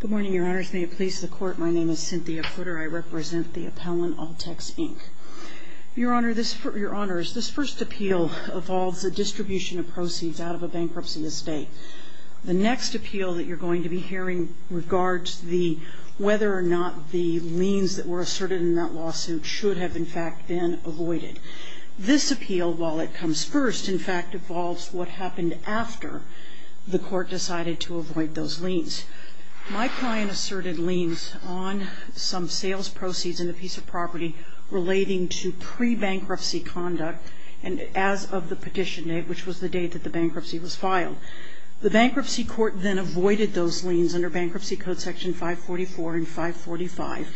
Good morning, Your Honors. May it please the Court, my name is Cynthia Putter. I represent the appellant, All-Tex, Inc. Your Honors, this first appeal involves the distribution of proceeds out of a bankruptcy estate. The next appeal that you're going to be hearing regards whether or not the liens that were asserted in that lawsuit should have in fact been avoided. This appeal, while it comes first, in fact involves what happened after the court decided to avoid those liens. My client asserted liens on some sales proceeds in a piece of property relating to pre-bankruptcy conduct as of the petition date, which was the date that the bankruptcy was filed. The bankruptcy court then avoided those liens under Bankruptcy Code Section 544 and 545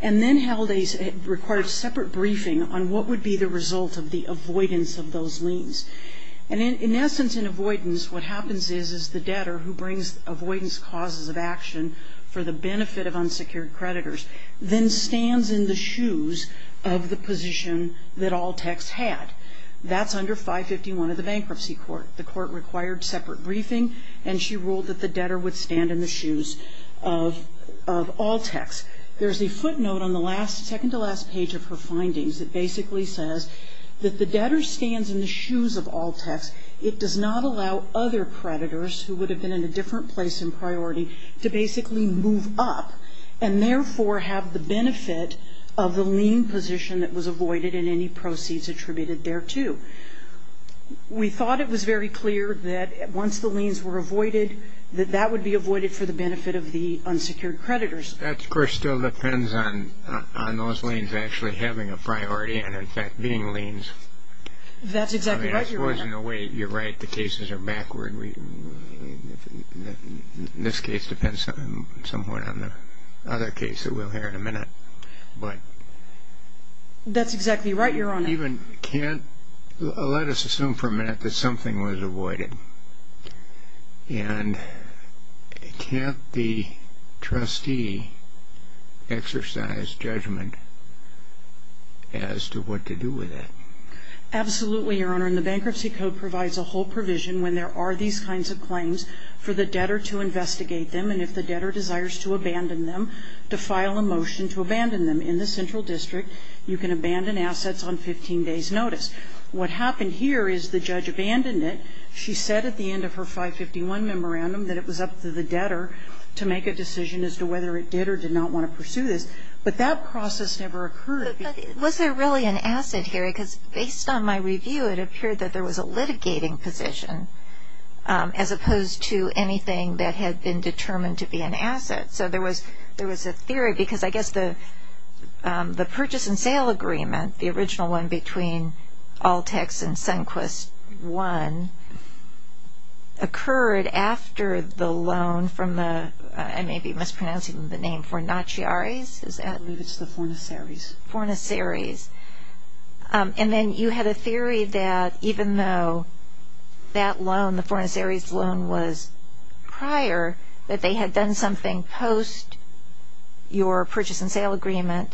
and then held a separate briefing on what would be the result of the avoidance of those liens. In essence, in avoidance, what happens is the debtor who brings avoidance causes of action for the benefit of unsecured creditors then stands in the shoes of the position that All-Tex had. That's under 551 of the bankruptcy court. The court required separate briefing and she ruled that the debtor would stand in the shoes of All-Tex. There's a footnote on the second to last page of her findings that basically says that the debtor stands in the shoes of All-Tex. It does not allow other creditors who would have been in a different place in priority to basically move up and therefore have the benefit of the lien position that was avoided in any proceeds attributed thereto. We thought it was very clear that once the liens were avoided that that would be avoided for the benefit of the unsecured creditors. That of course still depends on those liens actually having a priority and in fact being liens. That's exactly right, Your Honor. I mean, I suppose in a way you're right, the cases are backward. This case depends somewhat on the other case that we'll hear in a minute. That's exactly right, Your Honor. Even, can't, let us assume for a minute that something was avoided and can't the trustee exercise judgment as to what to do with it? Absolutely, Your Honor, and the Bankruptcy Code provides a whole provision when there are these kinds of claims for the debtor to investigate them and if the debtor desires to abandon them to file a motion to abandon them. In the Central District, you can abandon assets on 15 days' notice. What happened here is the judge abandoned it. She said at the end of her 551 memorandum that it was up to the debtor to make a decision as to whether it did or did not want to pursue this, but that process never occurred. But was there really an asset here? Because based on my review, it appeared that there was a litigating position as opposed to anything that had been determined to be an asset. So there was a theory, because I guess the purchase and sale agreement, the original one between Altex and Sunquist I, occurred after the loan from the, I may be mispronouncing the name, Fornacieres? I believe it's the Fornacieres. Fornacieres. And then you had a theory that even though that loan, the Fornacieres loan was prior, that they had done something post your purchase and sale agreement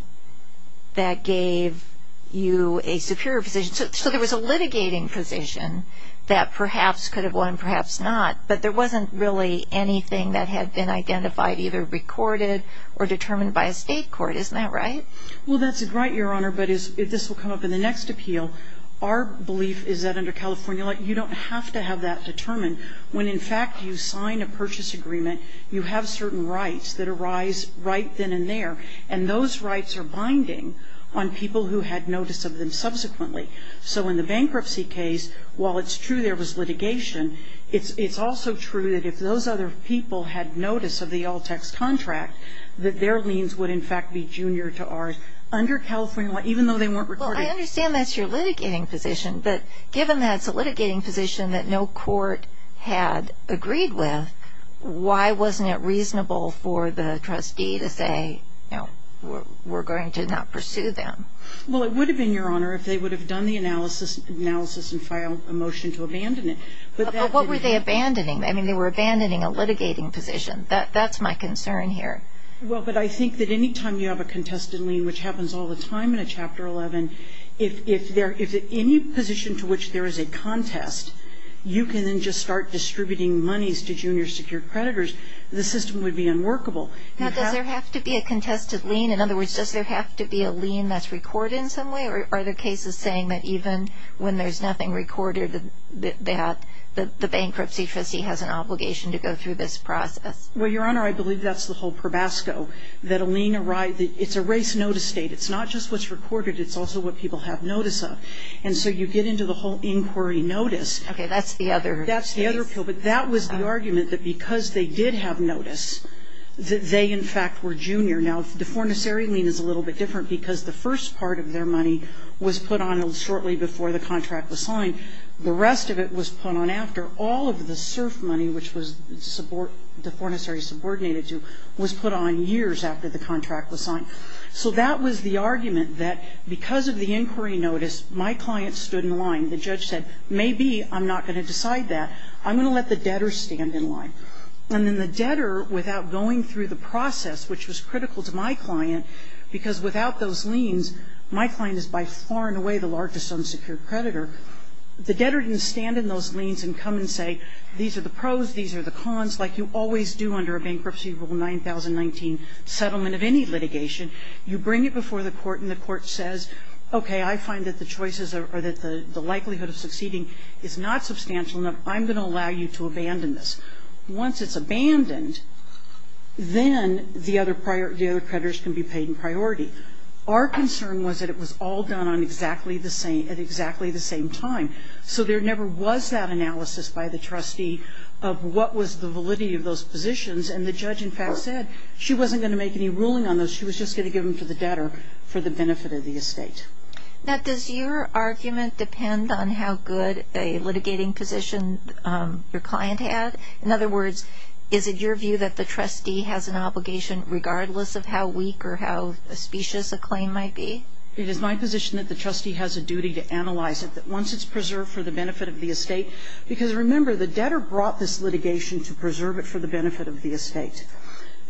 that gave you a superior position. So there was a litigating position that perhaps could have won, perhaps not, but there wasn't really anything that had been identified, either recorded or determined by a state court. Isn't that right? Well, that's right, Your Honor, but this will come up in the next appeal. Our belief is that under California law, you don't have to have that determined. When, in fact, you sign a purchase agreement, you have certain rights that arise right then and there, and those rights are binding on people who had notice of them subsequently. So in the bankruptcy case, while it's true there was litigation, it's also true that if those other people had notice of the Altex contract, that their liens would in fact be junior to ours. Under California law, even though they weren't recorded I understand that's your litigating position, but given that it's a litigating position that no court had agreed with, why wasn't it reasonable for the trustee to say, you know, we're going to not pursue them? Well, it would have been, Your Honor, if they would have done the analysis and filed a motion to abandon it. But what were they abandoning? I mean, they were abandoning a litigating position. That's my concern here. Well, but I think that any time you have a contested lien, which happens all the time in a Chapter 11, if any position to which there is a contest, you can then just start distributing monies to junior secured creditors, the system would be unworkable. Now, does there have to be a contested lien? In other words, does there have to be a lien that's recorded in some way, or are there cases saying that even when there's nothing recorded, that the bankruptcy trustee has an obligation to go through this process? Well, Your Honor, I believe that's the whole probasco, that a lien arises it's a race notice state. It's not just what's recorded, it's also what people have notice of. And so you get into the whole inquiry notice. Okay. That's the other case. That's the other pill. But that was the argument that because they did have notice, that they, in fact, were junior. Now, the fornicary lien is a little bit different because the first part of their money was put on shortly before the contract was signed. The rest of it was put on after. All of the SURF money, which the fornicary subordinated to, was put on years after the contract was signed. So that was the argument, that because of the inquiry notice, my client stood in line. The judge said, maybe I'm not going to decide that. I'm going to let the debtor stand in line. And then the debtor, without going through the process, which was critical to my client, because without those liens, my client is by far and away the largest unsecured creditor. The debtor didn't stand in those liens and come and say, these are the pros, these are the cons, like you always do under a bankruptcy rule 9019 settlement of any litigation. You bring it before the court and the court says, okay, I find that the choices or that the likelihood of succeeding is not substantial enough. I'm going to allow you to abandon this. Once it's abandoned, then the other creditors can be paid in priority. Our concern was that it was all done at exactly the same time. So there never was that analysis by the trustee of what was the validity of those positions. And the judge, in fact, said she wasn't going to make any ruling on those. She was just going to give them to the debtor for the benefit of the estate. Now, does your argument depend on how good a litigating position your client had? In other words, is it your view that the trustee has an obligation, regardless of how weak or how auspicious a claim might be? It is my position that the trustee has a duty to analyze it, that once it's preserved for the benefit of the estate. Because, remember, the debtor brought this litigation to preserve it for the benefit of the estate.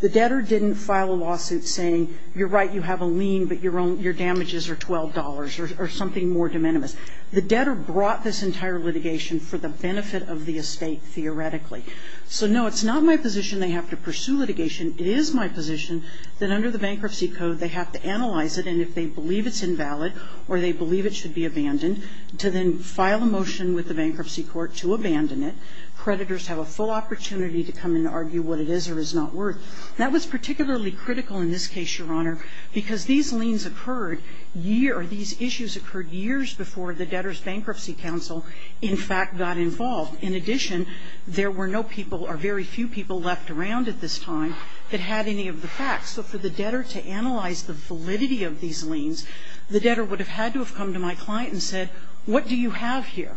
The debtor didn't file a lawsuit saying, you're right, you have a lien, but your damages are $12, or something more de minimis. The debtor brought this entire litigation for the benefit of the estate, theoretically. So, no, it's not my position they have to pursue litigation. It is my position that under the bankruptcy code they have to analyze it, and if they believe it's invalid or they believe it should be abandoned, to then file a motion with the bankruptcy court to abandon it. Creditors have a full opportunity to come and argue what it is or is not worth. That was particularly critical in this case, Your Honor, because these liens occurred years or these issues occurred years before the debtor's bankruptcy counsel, in fact, got involved. In addition, there were no people or very few people left around at this time that had any of the facts. So for the debtor to analyze the validity of these liens, the debtor would have had to have come to my client and said, what do you have here?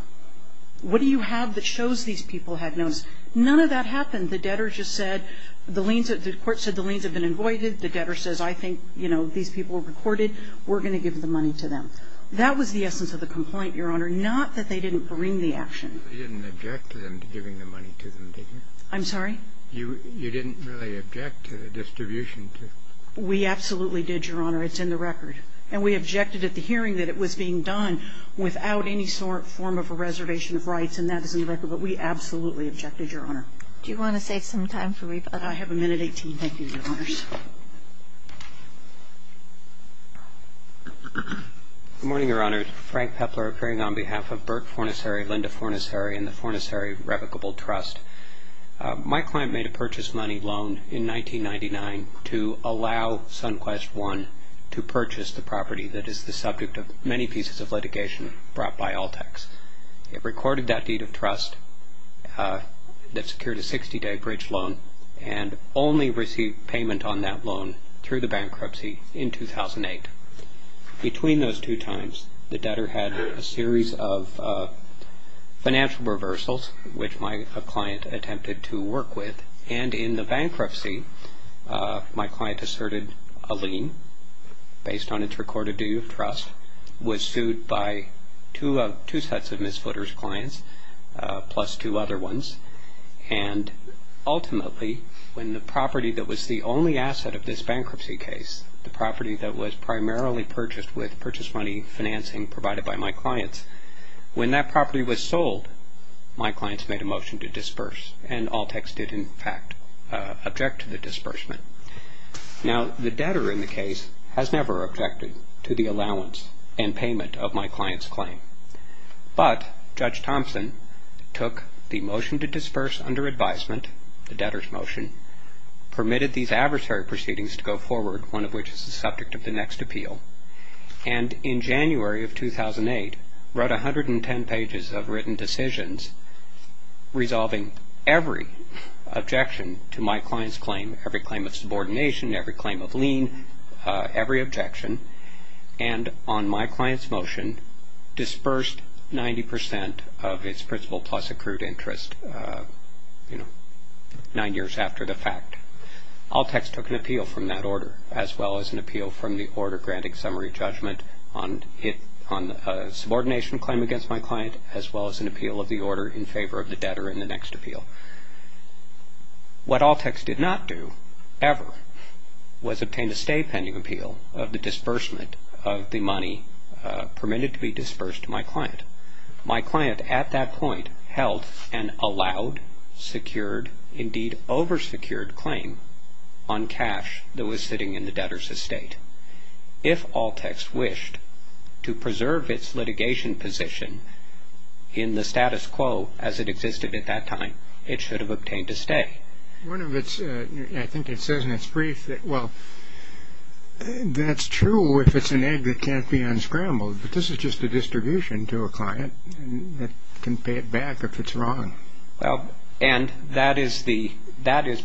What do you have that shows these people had noticed? None of that happened. The debtor just said the liens, the court said the liens have been avoided. The debtor says, I think, you know, these people were recorded. We're going to give the money to them. That was the essence of the complaint, Your Honor, not that they didn't bring the action. You didn't object to them giving the money to them, did you? I'm sorry? You didn't really object to the distribution? We absolutely did, Your Honor. It's in the record. And we objected at the hearing that it was being done without any sort of form of a reservation of rights, and that is in the record. But we absolutely objected, Your Honor. Do you want to save some time for rebuttal? I have a minute 18. Thank you, Your Honors. Good morning, Your Honor. Frank Pepler appearing on behalf of Burke Fornissery, Linda Fornissery, and the Fornissery Replicable Trust. My client made a purchase money loan in 1999 to allow Sunquest One to purchase the property that is the subject of many pieces of litigation brought by Altex. It recorded that deed of trust that secured a 60-day bridge loan and only received payment on that loan through the bankruptcy in 2008. Between those two times, the debtor had a series of financial reversals, which my client attempted to work with. And in the bankruptcy, my client asserted a lien based on its recorded due of trust, was sued by two sets of misfooters clients, plus two other ones. And ultimately, when the property that was the only asset of this bankruptcy case, the property that was primarily purchased with purchase money financing provided by my clients, when that property was sold, my clients made a motion to disperse. And Altex did, in fact, object to the disbursement. Now, the debtor in the case has never objected to the allowance and payment of my client's claim. But Judge Thompson took the motion to disperse under advisement, the debtor's motion, permitted these adversary proceedings to go forward, one of which is the subject of the next appeal. And in January of 2008, wrote 110 pages of written decisions resolving every objection to my client's claim, every claim of subordination, every claim of lien, every objection, and on my client's motion, dispersed 90% of its principal plus accrued interest nine years after the fact. Altex took an appeal from that order, as well as an appeal from the order granting summary judgment on a subordination claim against my client, as well as an appeal of the order in favor of the debtor in the next appeal. What Altex did not do, ever, was obtain a stay-pending appeal of the disbursement of the money permitted to be dispersed to my client. My client, at that point, held an allowed, secured, indeed over-secured claim on cash that was sitting in the debtor's estate. If Altex wished to preserve its litigation position in the status quo as it existed at that time, it should have obtained a stay. One of its, I think it says in its brief, well, that's true if it's an egg that can't be unscrambled. But this is just a distribution to a client that can pay it back if it's wrong. Well, and that is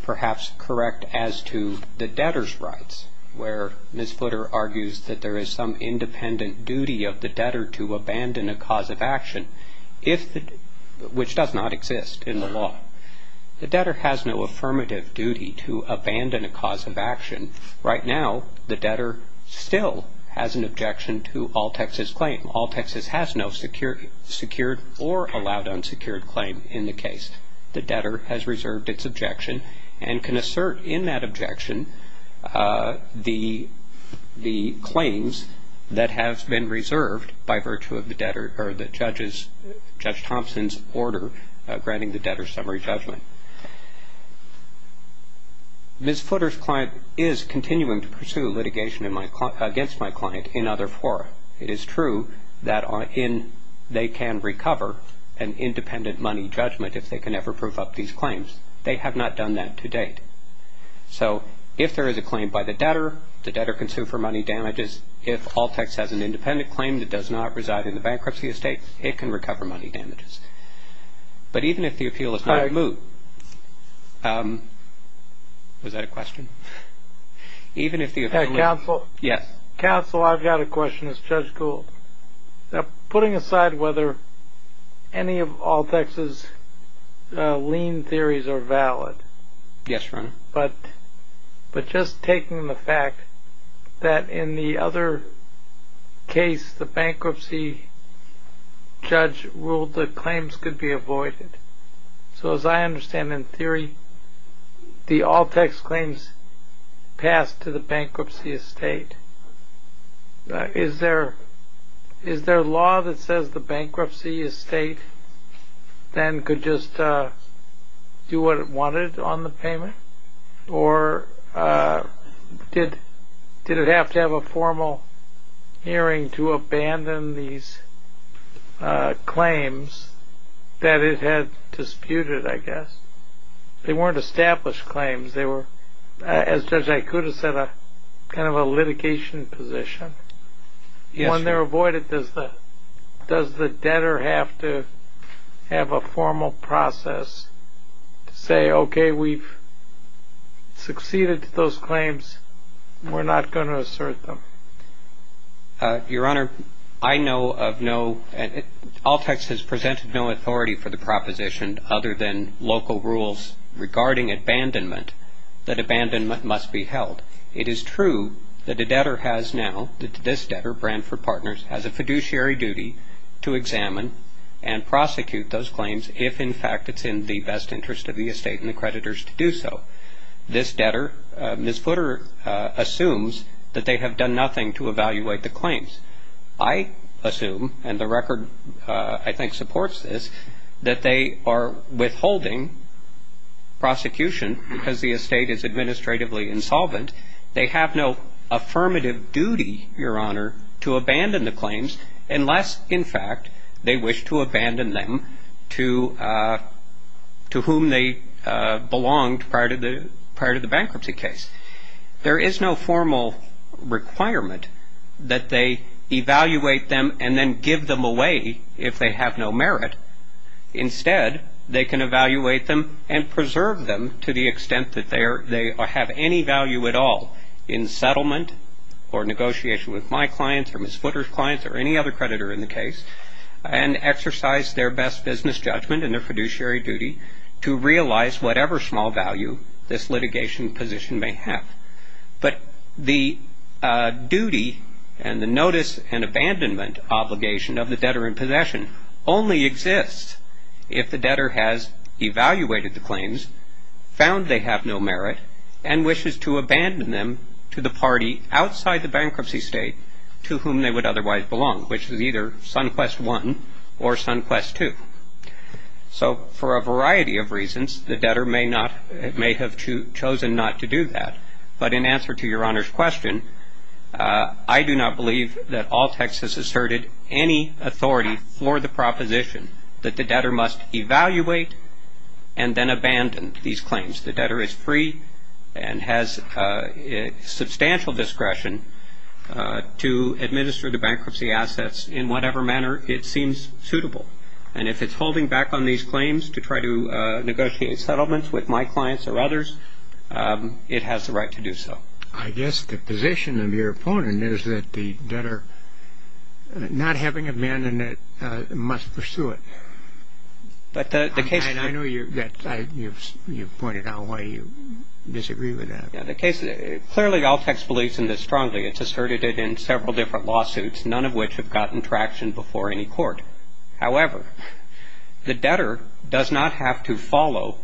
perhaps correct as to the debtor's rights, where Ms. Footer argues that there is some independent duty of the debtor to abandon a cause of action, which does not exist in the law. The debtor has no affirmative duty to abandon a cause of action. Right now, the debtor still has an objection to Altex's claim. Altex has no secured or allowed unsecured claim in the case. The debtor has reserved its objection and can assert in that objection the claims that have been reserved by virtue of the debtor or the judge's, Judge Thompson's, order granting the debtor summary judgment. Ms. Footer's client is continuing to pursue litigation against my client in other fora. It is true that they can recover an independent money judgment if they can ever prove up these claims. They have not done that to date. So if there is a claim by the debtor, the debtor can sue for money damages. If Altex has an independent claim that does not reside in the bankruptcy estate, it can recover money damages. But even if the appeal is not moved, was that a question? Counsel, I've got a question as Judge Gould. Putting aside whether any of Altex's lien theories are valid, but just taking the fact that in the other case, the bankruptcy judge ruled that claims could be avoided. So as I understand in theory, the Altex claims passed to the bankruptcy estate. Is there law that says the bankruptcy estate then could just do what it wanted on the payment? Or did it have to have a formal hearing to abandon these claims that it had disputed, I guess? They weren't established claims. They were, as Judge Ikuda said, kind of a litigation position. When they're avoided, does the debtor have to have a formal process to say, okay, we've succeeded to those claims, we're not going to assert them? Your Honor, I know of no – Altex has presented no authority for the proposition other than local rules regarding abandonment that abandonment must be held. It is true that the debtor has now – that this debtor, Brandford Partners, has a fiduciary duty to examine and prosecute those claims if, in fact, it's in the best interest of the estate and the creditors to do so. This debtor, Ms. Footer, assumes that they have done nothing to evaluate the claims. I assume, and the record I think supports this, that they are withholding prosecution because the estate is administratively insolvent. They have no affirmative duty, Your Honor, to abandon the claims unless, in fact, they wish to abandon them to whom they belonged prior to the bankruptcy case. There is no formal requirement that they evaluate them and then give them away if they have no merit. Instead, they can evaluate them and preserve them to the extent that they have any value at all or negotiation with my clients or Ms. Footer's clients or any other creditor in the case and exercise their best business judgment and their fiduciary duty to realize whatever small value this litigation position may have. But the duty and the notice and abandonment obligation of the debtor in possession only exists if the debtor has evaluated the claims, found they have no merit, and wishes to abandon them to the party outside the bankruptcy state to whom they would otherwise belong, which is either SunQuest I or SunQuest II. So for a variety of reasons, the debtor may have chosen not to do that. But in answer to Your Honor's question, I do not believe that all text has asserted any authority for the proposition that the debtor must evaluate and then abandon these claims. The debtor is free and has substantial discretion to administer the bankruptcy assets in whatever manner it seems suitable. And if it's holding back on these claims to try to negotiate settlements with my clients or others, it has the right to do so. I guess the position of your opponent is that the debtor not having abandoned it must pursue it. I know you've pointed out why you disagree with that. Clearly, all text believes in this strongly. It's asserted it in several different lawsuits, none of which have gotten traction before any court. However, the debtor does not have to follow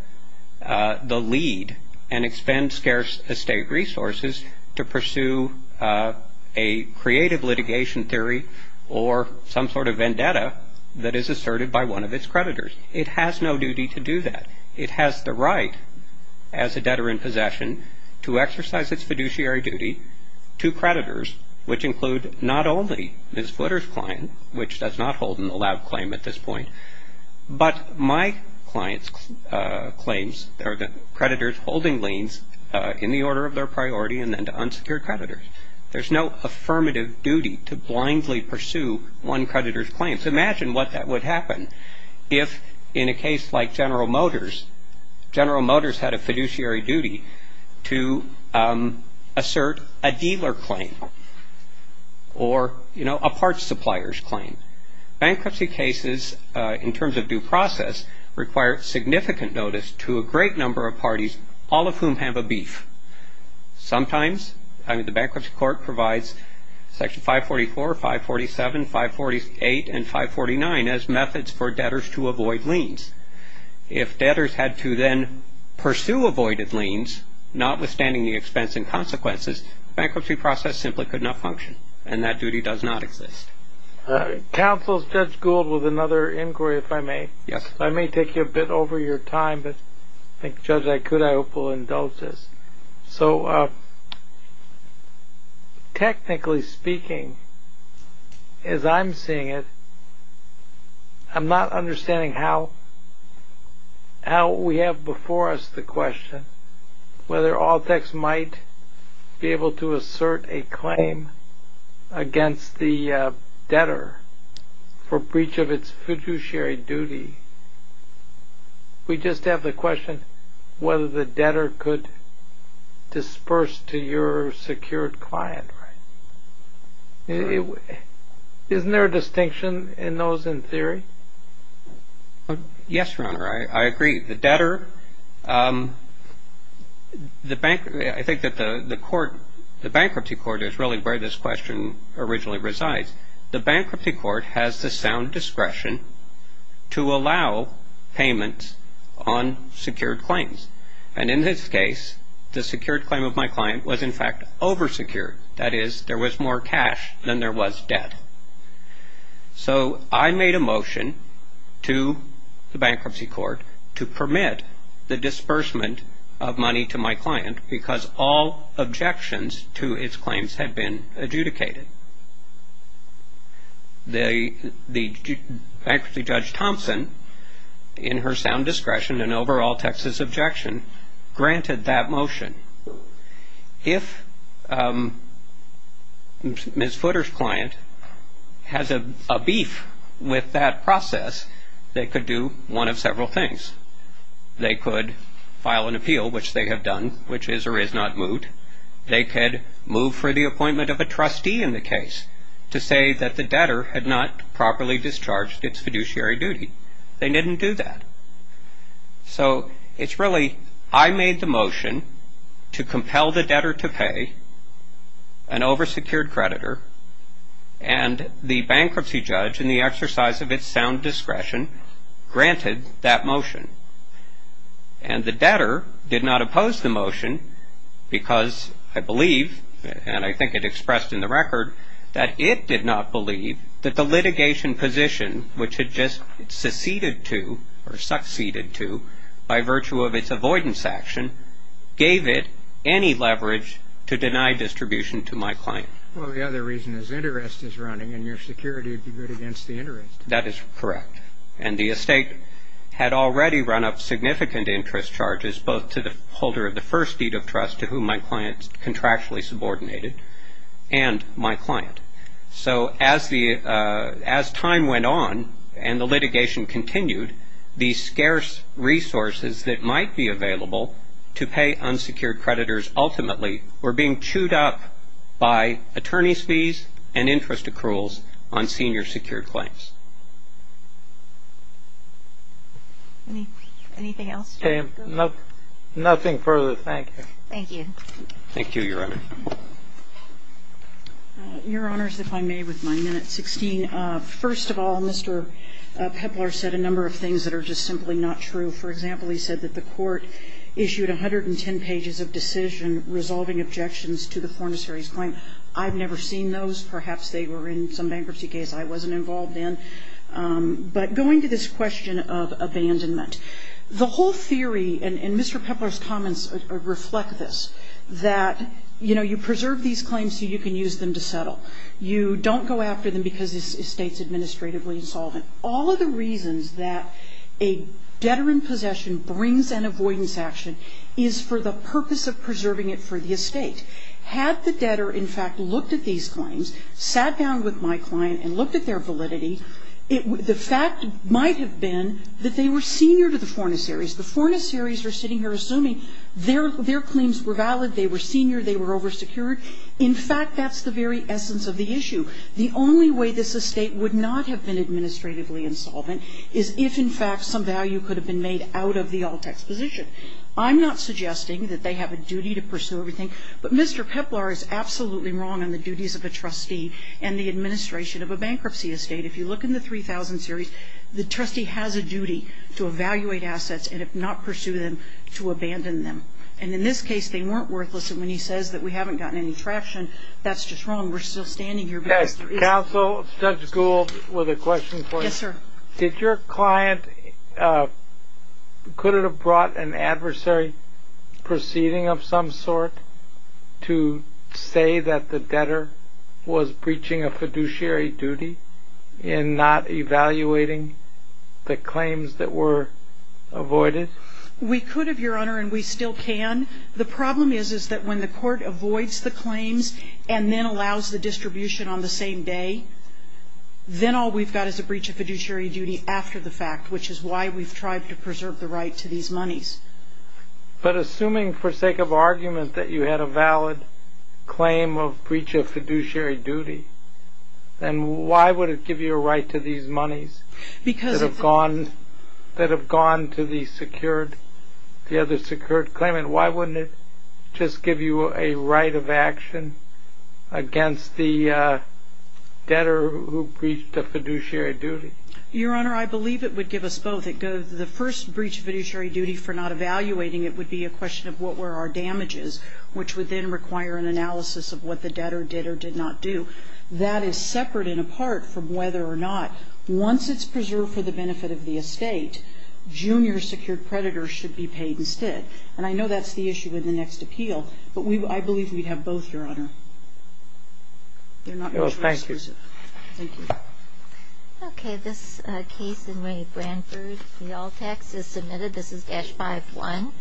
the lead and expend scarce estate resources to pursue a creative litigation theory or some sort of vendetta that is asserted by one of its creditors. It has no duty to do that. It has the right as a debtor in possession to exercise its fiduciary duty to creditors, which include not only Ms. Flitter's client, which does not hold an allowed claim at this point, but my client's claims are the creditors holding liens in the order of their priority and then to unsecured creditors. There's no affirmative duty to blindly pursue one creditor's claims. Imagine what that would happen if, in a case like General Motors, General Motors had a fiduciary duty to assert a dealer claim or, you know, a parts supplier's claim. Bankruptcy cases, in terms of due process, require significant notice to a great number of parties, all of whom have a beef. Sometimes the bankruptcy court provides Section 544, 547, 548 and 549 as methods for debtors to avoid liens. If debtors had to then pursue avoided liens, notwithstanding the expense and consequences, bankruptcy process simply could not function and that duty does not exist. Counsel, is Judge Gould with another inquiry, if I may? Yes. I may take you a bit over your time, but I think, Judge, I could, I hope, will indulge this. So, technically speaking, as I'm seeing it, I'm not understanding how we have before us the question whether Altex might be able to assert a claim against the debtor for breach of its fiduciary duty. We just have the question whether the debtor could disperse to your secured client, right? Isn't there a distinction in those, in theory? Yes, Your Honor, I agree. The debtor, the bank, I think that the court, the bankruptcy court is really where this question originally resides. The bankruptcy court has the sound discretion to allow payment on secured claims. And in this case, the secured claim of my client was, in fact, oversecured. That is, there was more cash than there was debt. So, I made a motion to the bankruptcy court to permit the disbursement of money to my client because all objections to its claims had been adjudicated. The bankruptcy judge, Thompson, in her sound discretion and overall Texas objection, granted that motion. If Ms. Footer's client has a beef with that process, they could do one of several things. They could file an appeal, which they have done, which is or is not moot. They could move for the appointment of a trustee in the case to say that the debtor had not properly discharged its fiduciary duty. They didn't do that. So, it's really I made the motion to compel the debtor to pay an oversecured creditor and the bankruptcy judge in the exercise of its sound discretion granted that motion. And the debtor did not oppose the motion because I believe, and I think it expressed in the record, that it did not believe that the litigation position, which it just seceded to or succeeded to, by virtue of its avoidance action, gave it any leverage to deny distribution to my client. Well, the other reason is interest is running and your security would be good against the interest. That is correct. And the estate had already run up significant interest charges, both to the holder of the first deed of trust to whom my client contractually subordinated and my client. So, as time went on and the litigation continued, the scarce resources that might be available to pay unsecured creditors ultimately were being chewed up by attorney's fees and interest accruals on senior secured claims. Anything else? Nothing further. Thank you. Thank you. Thank you, Your Honor. Your Honors, if I may, with my minute 16. First of all, Mr. Pepler said a number of things that are just simply not true. For example, he said that the Court issued 110 pages of decision resolving objections to the fornicator's claim. I've never seen those. Perhaps they were in some bankruptcy case I wasn't involved in. But going to this question of abandonment, the whole theory, and Mr. Pepler's that, you know, you preserve these claims so you can use them to settle. You don't go after them because the estate is administratively insolvent. All of the reasons that a debtor in possession brings an avoidance action is for the purpose of preserving it for the estate. Had the debtor, in fact, looked at these claims, sat down with my client and looked at their validity, the fact might have been that they were senior to the fornicators. The fornicators are sitting here assuming their claims were valid, they were senior, they were oversecured. In fact, that's the very essence of the issue. The only way this estate would not have been administratively insolvent is if, in fact, some value could have been made out of the alt-exposition. I'm not suggesting that they have a duty to pursue everything, but Mr. Pepler is absolutely wrong on the duties of a trustee and the administration of a bankruptcy estate. If you look in the 3000 series, the trustee has a duty to evaluate assets and, if not pursue them, to abandon them. In this case, they weren't worthless. When he says that we haven't gotten any traction, that's just wrong. We're still standing here. Counsel, Judge Gould, with a question for you. Yes, sir. Could it have brought an adversary proceeding of some sort to say that the debtor was a breach of fiduciary duty in not evaluating the claims that were avoided? We could, Your Honor, and we still can. The problem is that when the court avoids the claims and then allows the distribution on the same day, then all we've got is a breach of fiduciary duty after the fact, which is why we've tried to preserve the right to these monies. But assuming for sake of argument that you had a valid claim of breach of fiduciary duty, then why would it give you a right to these monies that have gone to the other secured claimant? Why wouldn't it just give you a right of action against the debtor who breached a fiduciary duty? Your Honor, I believe it would give us both. The first breach of fiduciary duty for not evaluating it would be a question of what were our damages, which would then require an analysis of what the debtor did or did not do. That is separate and apart from whether or not, once it's preserved for the benefit of the estate, junior secured creditors should be paid instead. And I know that's the issue in the next appeal, but I believe we'd have both, Your Honor. They're not mutually exclusive. Thank you. Thank you. Okay. This case in Ray Branford, the all tax is submitted. This is dash 5-1.